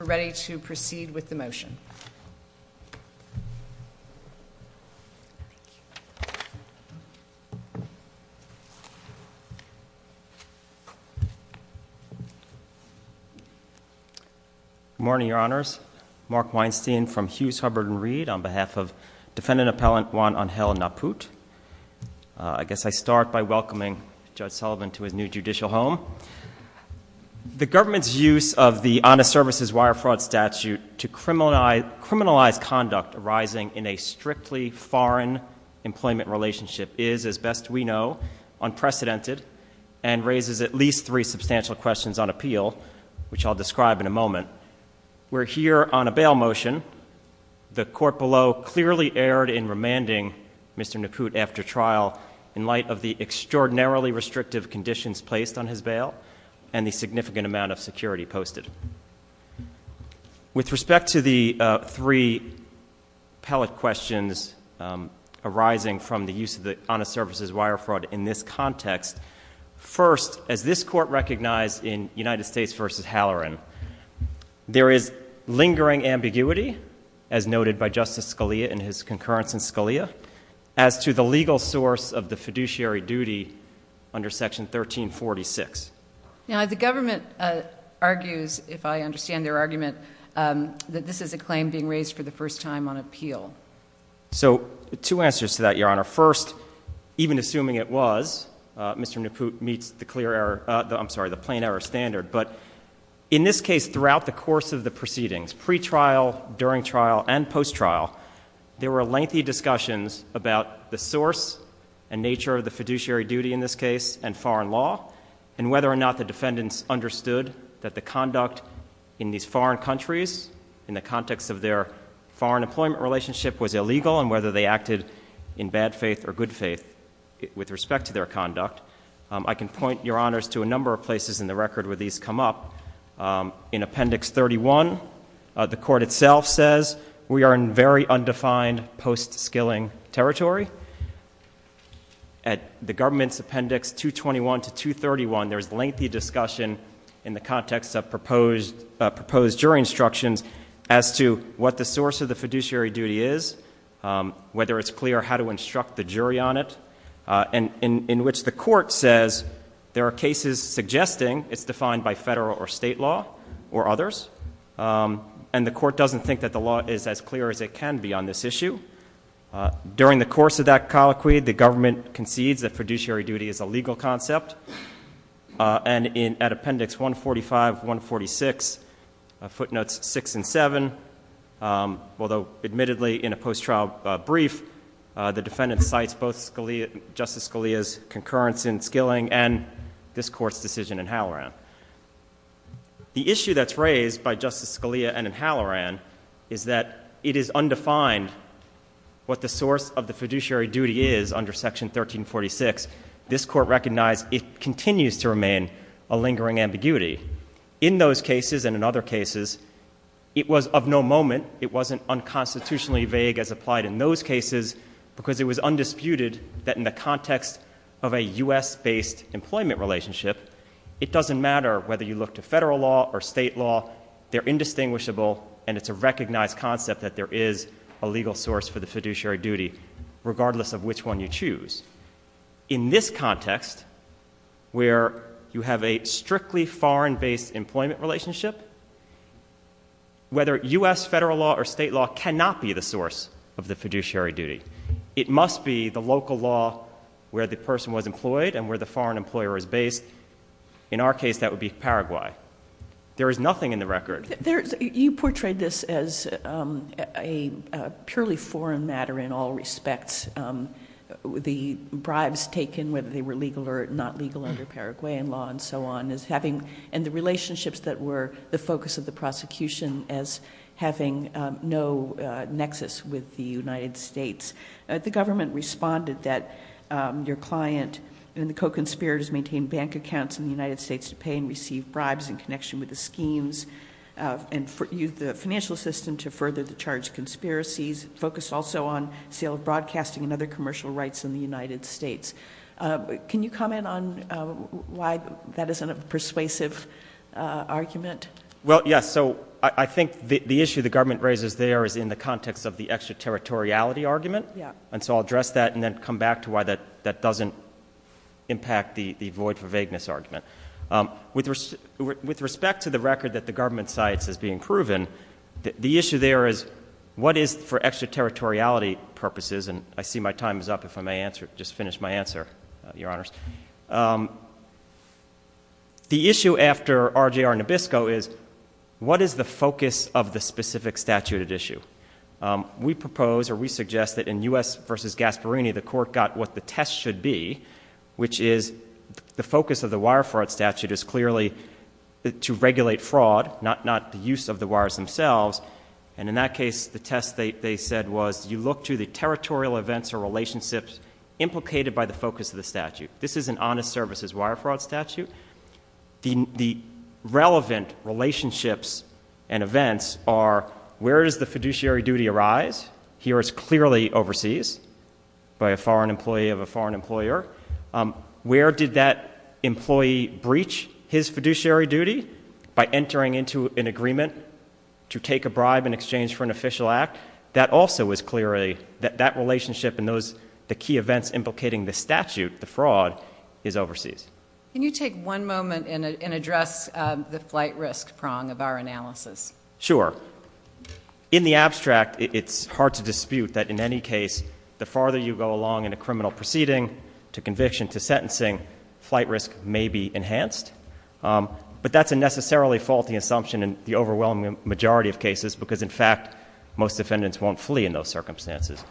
are ready to proceed with the motion. Good morning, Your Honors. Mark Weinstein from Hughes, Hubbard & Reed on behalf of Defendant Appellant Juan Angel Naput. I guess I start by welcoming Judge Sullivan to his new judicial home. The government's use of the Honest Services Wire Fraud statute to criminalize conduct arising in a strictly foreign employment relationship is, as best we know, unprecedented and raises at least three substantial questions on appeal, which I'll describe in a moment. We're here on a bail motion. The court below clearly erred in remanding Mr. Naput after trial in light of the extraordinarily restrictive conditions placed on his bail and the significant amount of security posted. With respect to the three appellate questions arising from the use of the Honest Services Wire Fraud in this context, first, as this court recognized in United States v. Halloran, there is lingering ambiguity, as noted by Justice Scalia in his concurrence in Scalia, as to the legal source of the fiduciary duty under Section 1346. Now, the government argues, if I understand their argument, that this is a claim being raised for the first time on appeal. So two answers to that, Your Honor. First, even assuming it was, Mr. Naput meets the clear error, I'm sorry, the plain error standard. But in this case, throughout the course of the proceedings, pre-trial, during trial, and post-trial, there were lengthy discussions about the source and nature of the fiduciary duty in this case and foreign law, and whether or not the defendants understood that the conduct in these foreign countries, in the context of their foreign employment relationship, was illegal, and whether they acted in bad faith or good faith with respect to their conduct. I can point, Your Honors, to a number of places in the record where these come up. In Appendix 31, the Court itself says we are in very undefined post-skilling territory. At the government's Appendix 221 to 231, there's lengthy discussion in the context of proposed jury instructions as to what the source of the fiduciary duty is, whether it's clear how to instruct the jury on it, and in which the Court says there are cases suggesting it's defined by federal or state law or others. And the Court doesn't think that the law is as clear as it can be on this issue. During the course of that colloquy, the government concedes that fiduciary duty is a legal concept. And at Appendix 145, 146, footnotes 6 and 7, although admittedly in a post-trial brief, the defendant cites both Justice Scalia's concurrence in skilling and this Court's decision in Halloran. The issue that's raised by Justice Scalia and in Halloran is that it is undefined what the source of the fiduciary duty is under Section 1346. This Court recognized it continues to remain a lingering ambiguity. In those cases and in other cases, it was of no moment, it wasn't unconstitutionally vague as applied in those cases, because it was undisputed that in the context of a U.S.-based employment relationship, it doesn't matter whether you look to federal law or state law. They're indistinguishable, and it's a recognized concept that there is a legal source for the fiduciary duty, regardless of which one you choose. In this context, where you have a strictly foreign-based employment relationship, whether U.S. federal law or state law cannot be the source of the fiduciary duty. It must be the local law where the person was employed and where the foreign employer is based. In our case, that would be Paraguay. There is nothing in the record. You portrayed this as a purely foreign matter in all respects. The bribes taken, whether they were legal or not legal under Paraguayan law and so on, and the relationships that were the focus of the prosecution as having no nexus with the United States. The government responded that your client and the co-conspirators maintained bank accounts in the United States to pay and receive bribes in connection with the schemes, and used the financial system to further the charged conspiracies, focused also on sale of broadcasting and other commercial rights in the United States. Can you comment on why that isn't a persuasive argument? Well, yes. So I think the issue the government raises there is in the context of the extraterritoriality argument, and so I'll address that and then come back to why that doesn't impact the void for vagueness argument. With respect to the record that the government cites as being proven, the issue there is what is, for extraterritoriality purposes, and I see my time is up, if I may just finish my answer, Your Honors. The issue after RJR Nabisco is what is the focus of the specific statute at issue? We propose, or we suggest, that in U.S. v. Gasparini, the Court got what the test should be, which is the focus of the wire fraud statute is clearly to regulate fraud, not the use of the wires themselves. And in that case, the test they said was, you look to the territorial events or relationships implicated by the focus of the statute. This is an honest services wire fraud statute. The relevant relationships and events are where does the fiduciary duty arise? Here it's clearly overseas by a foreign employee of a foreign employer. Where did that employee breach his fiduciary duty? By entering into an agreement to take a bribe in exchange for an official act. That also is clearly, that relationship and those, the key events implicating the statute, the fraud, is overseas. Can you take one moment and address the flight risk prong of our analysis? Sure. In the abstract, it's hard to dispute that in any case, the farther you go along in a criminal proceeding, to conviction, to sentencing, flight risk may be enhanced. But that's a necessarily faulty assumption in the overwhelming majority of cases because, in fact, most defendants won't flee in those circumstances.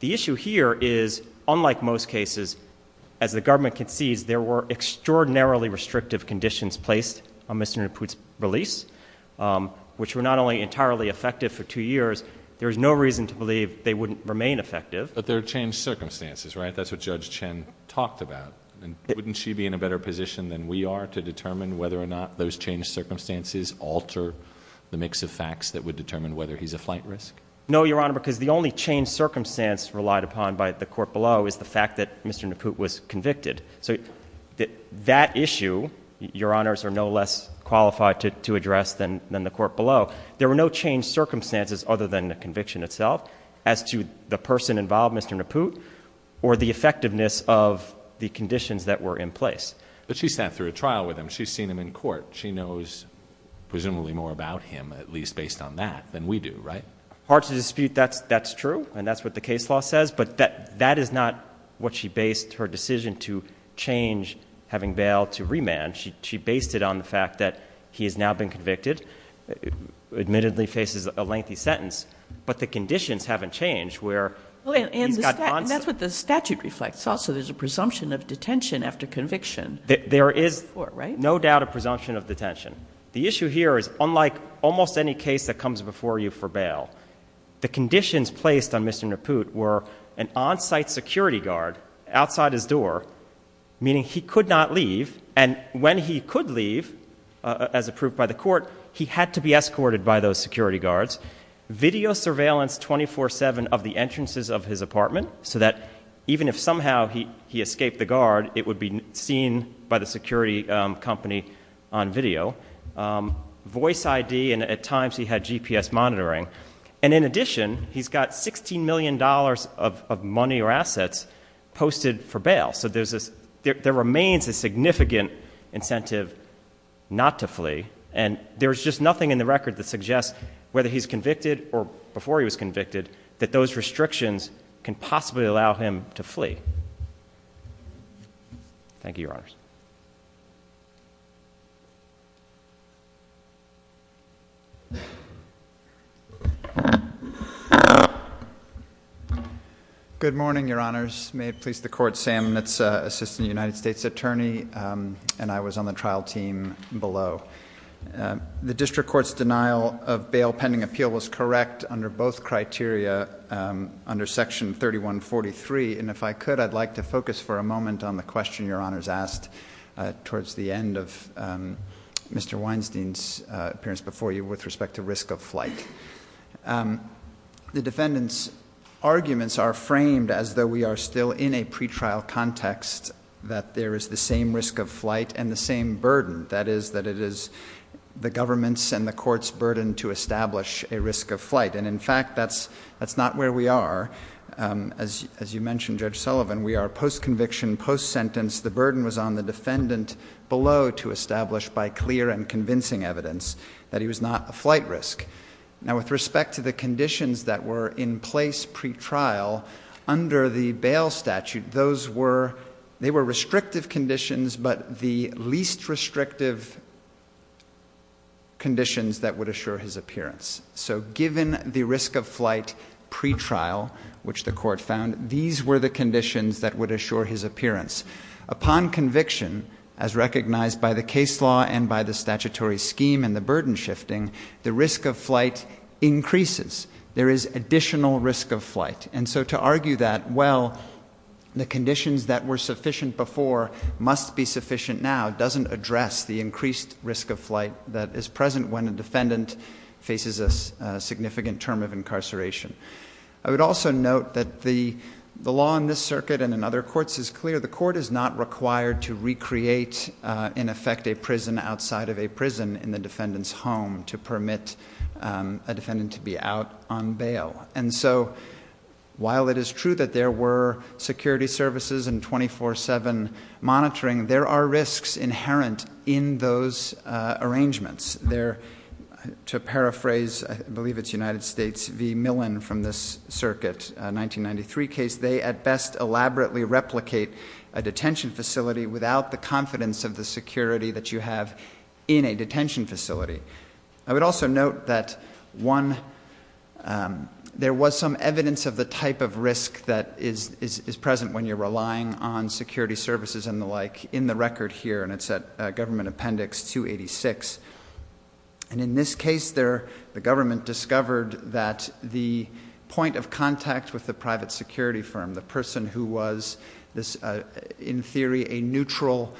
The issue here is, unlike most cases, as the government concedes, there were extraordinarily restrictive conditions placed on Mr. Naput's release, which were not only entirely effective for two years, there's no reason to believe they wouldn't remain effective. But there are changed circumstances, right? That's what Judge Chen talked about. And wouldn't she be in a better position than we are to determine whether or not those changed circumstances alter the mix of facts that would determine whether he's a flight risk? No, Your Honor, because the only changed circumstance relied upon by the court below is the fact that Mr. Naput was convicted. So that issue, Your Honors, are no less qualified to address than the court below. There were no changed circumstances other than the conviction itself as to the person involved, Mr. Naput, or the effectiveness of the conditions that were in place. But she sat through a trial with him. She's seen him in court. She knows presumably more about him, at least based on that, than we do, right? Hard to dispute that's true, and that's what the case law says. But that is not what she based her decision to change, having bail, to remand. She based it on the fact that he has now been convicted, admittedly faces a lengthy sentence. But the conditions haven't changed where he's got on- And that's what the statute reflects. Also, there's a presumption of detention after conviction. There is no doubt a presumption of detention. The issue here is, unlike almost any case that comes before you for bail, the conditions placed on Mr. Naput were an on-site security guard outside his door, meaning he could not leave. And when he could leave, as approved by the court, he had to be escorted by those security guards. Video surveillance 24-7 of the entrances of his apartment, so that even if somehow he escaped the guard, it would be seen by the security company on video. Voice ID, and at times he had GPS monitoring. And in addition, he's got $16 million of money or assets posted for bail. So there remains a significant incentive not to flee. And there's just nothing in the record that suggests whether he's convicted or before he was convicted, that those restrictions can possibly allow Good morning, Your Honors. May it please the Court, Sam Mitz, Assistant United States Attorney, and I was on the trial team below. The District Court's denial of bail pending appeal was correct under both criteria under Section 3143. And if I could, I'd like to focus for a moment on the question Your Honors asked towards the end of Mr. Weinstein's appearance before you with respect to risk of flight. The defendant's arguments are framed as though we are still in a pretrial context, that there is the same risk of flight and the same burden. That is, that it is the government's and the court's burden to establish a risk of flight. And in fact, that's not where we are. As you mentioned, Judge Sullivan, we are post-conviction, post-sentence. The burden was on the defendant below to establish by clear and convincing evidence that he was not a flight risk. Now with respect to the conditions that were in place pretrial under the bail statute, those were, they were restrictive conditions, but the least restrictive conditions that would assure his appearance. So given the risk of flight pretrial, which the court found, these were the conditions that would assure his shifting, the risk of flight increases. There is additional risk of flight. And so to argue that, well, the conditions that were sufficient before must be sufficient now, doesn't address the increased risk of flight that is present when a defendant faces a significant term of incarceration. I would also note that the law in this circuit and in other courts is clear. The court is not required to recreate, in effect, a prison outside of a prison in the defendant's home to permit a defendant to be out on bail. And so while it is true that there were security services and 24-7 monitoring, there are risks inherent in those arrangements. There, to paraphrase, I believe it's United States v. Millen from this circuit, a 1993 case, they at best elaborately replicate a detention facility without the confidence of the security that you have in a detention facility. I would also note that, one, there was some evidence of the type of risk that is present when you're relying on security services and the like in the record here, and it's at Government Appendix 286. And in this case there, the government discovered that the point of contact with the private security firm, the person who was, in theory, a neutral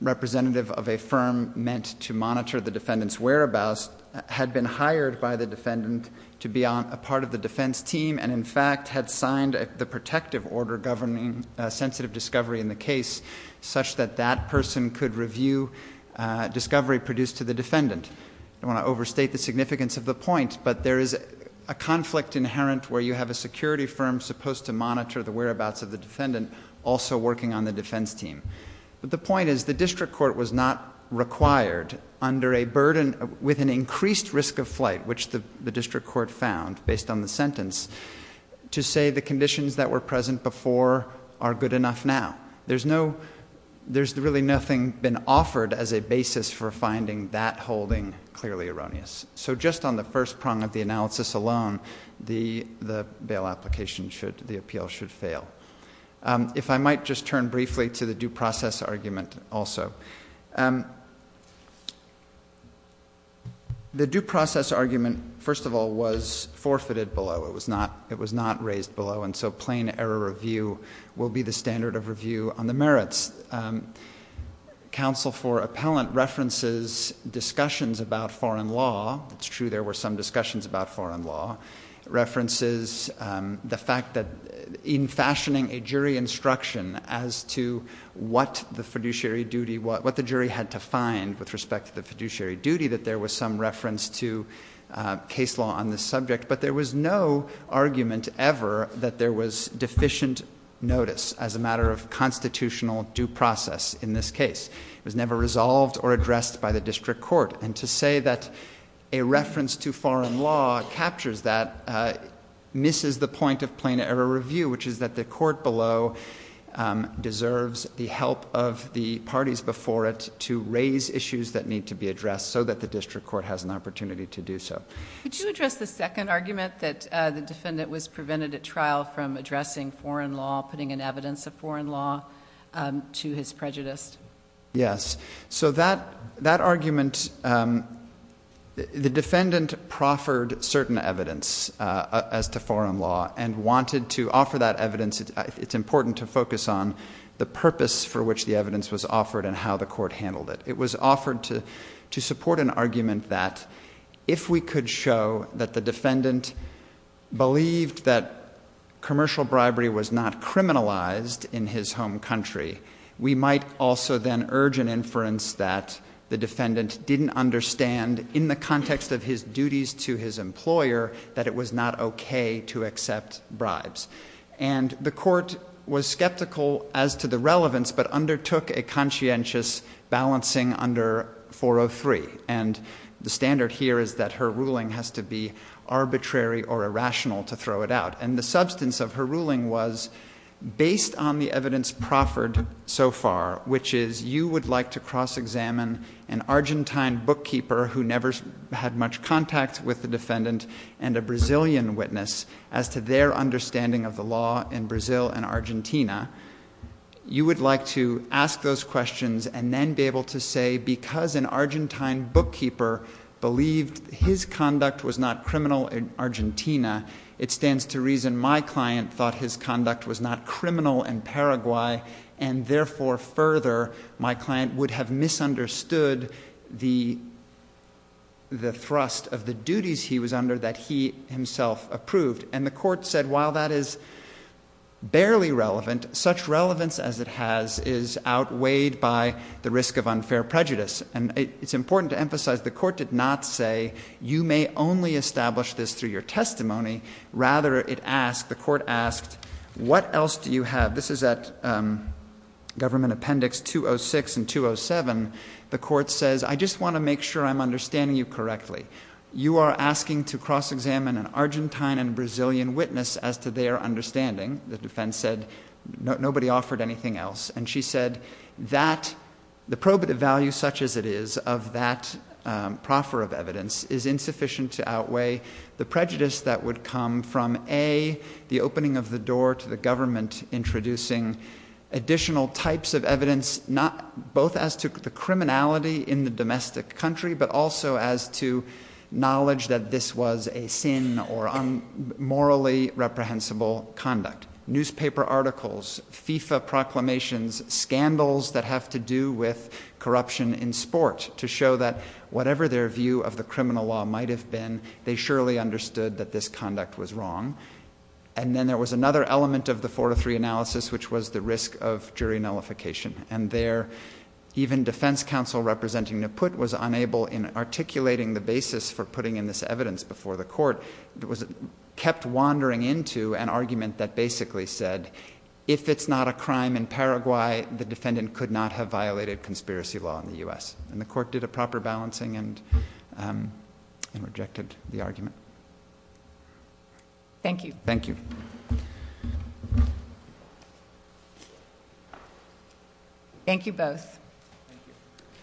representative of a firm meant to monitor the defendant's whereabouts, had been hired by the defendant to be on a part of the defense team and, in fact, had signed the protective order governing sensitive discovery in the case such that that person could review discovery produced to the defendant. I don't want to overstate the significance of the point, but there is a conflict inherent where you have a security firm supposed to monitor the whereabouts of the defendant also working on the defense team. But the point is the district court was not required, under a burden with an increased risk of flight, which the district court found, based on the sentence, to say the conditions that were present before are good enough now. There's no, there's really nothing been offered as a basis for finding that holding clearly erroneous. So just on the first prong of the analysis alone, the, the bail application should, the appeal should fail. If I might just turn briefly to the due process argument also. The due process argument, first of all, was forfeited below. It was not, it was not raised below. And so plain error review will be the standard of review on the merits. Counsel for appellant references discussions about foreign law. It's true there were some discussions about foreign law. References the fact that in fashioning a jury instruction as to what the fiduciary duty, what the jury had to find with respect to the fiduciary duty, that there was some case law on this subject. But there was no argument ever that there was deficient notice as a matter of constitutional due process in this case. It was never resolved or addressed by the district court. And to say that a reference to foreign law captures that misses the point of plain error review, which is that the court below deserves the help of the parties before it to raise issues that need to be addressed so that the district court has an opportunity to do so. Could you address the second argument that the defendant was prevented at trial from addressing foreign law, putting in evidence of foreign law to his prejudice? Yes. So that argument, the defendant proffered certain evidence as to foreign law and wanted to offer that evidence. It's important to focus on the purpose for which the evidence was offered and how the court handled it. It was offered to support an argument that if we could show that the defendant believed that commercial bribery was not criminalized in his home country, we might also then urge an inference that the defendant didn't understand in the context of his duties to his employer that it was not okay to accept bribes. And the court was skeptical as to the relevance but undertook a conscientious balancing under 403. And the standard here is that her ruling has to be arbitrary or irrational to throw it out. And the substance of her ruling was based on the evidence proffered so far, which is you would like to cross-examine an Argentine bookkeeper who never had much contact with the defendant and a Brazilian witness as to their understanding of the law in Brazil and Argentina. You would like to ask those questions and then be able to say because an Argentine bookkeeper believed his conduct was not criminal in Argentina, it stands to reason my client thought his conduct was not criminal in Paraguay and therefore further my client would have misunderstood the thrust of the duties he was under that he himself approved. And the court said while that is barely relevant, such relevance as it has is outweighed by the risk of unfair prejudice. And it's important to emphasize the court did not say you may only establish this through your testimony. Rather it asked, the court in 206 and 207, the court says I just want to make sure I'm understanding you correctly. You are asking to cross-examine an Argentine and Brazilian witness as to their understanding, the defense said, nobody offered anything else. And she said that the probative value such as it is of that proffer of evidence is insufficient to outweigh the prejudice that would come from A, the opening of the door to the government introducing additional types of evidence not both as to the criminality in the domestic country but also as to knowledge that this was a sin or morally reprehensible conduct. Newspaper articles, FIFA proclamations, scandals that have to do with corruption in sport to show that whatever their view of the criminal law might have been, they surely understood that this conduct was wrong. And then there was another element of the 4-3 analysis which was the risk of jury nullification. And there even defense counsel representing Neput was unable in articulating the basis for putting in this evidence before the court, kept wandering into an argument that basically said if it's not a crime in Paraguay, the defendant could not have violated conspiracy law in the U.S. And the court did a proper balancing and rejected the argument. Thank you. Thank you. Thank you both.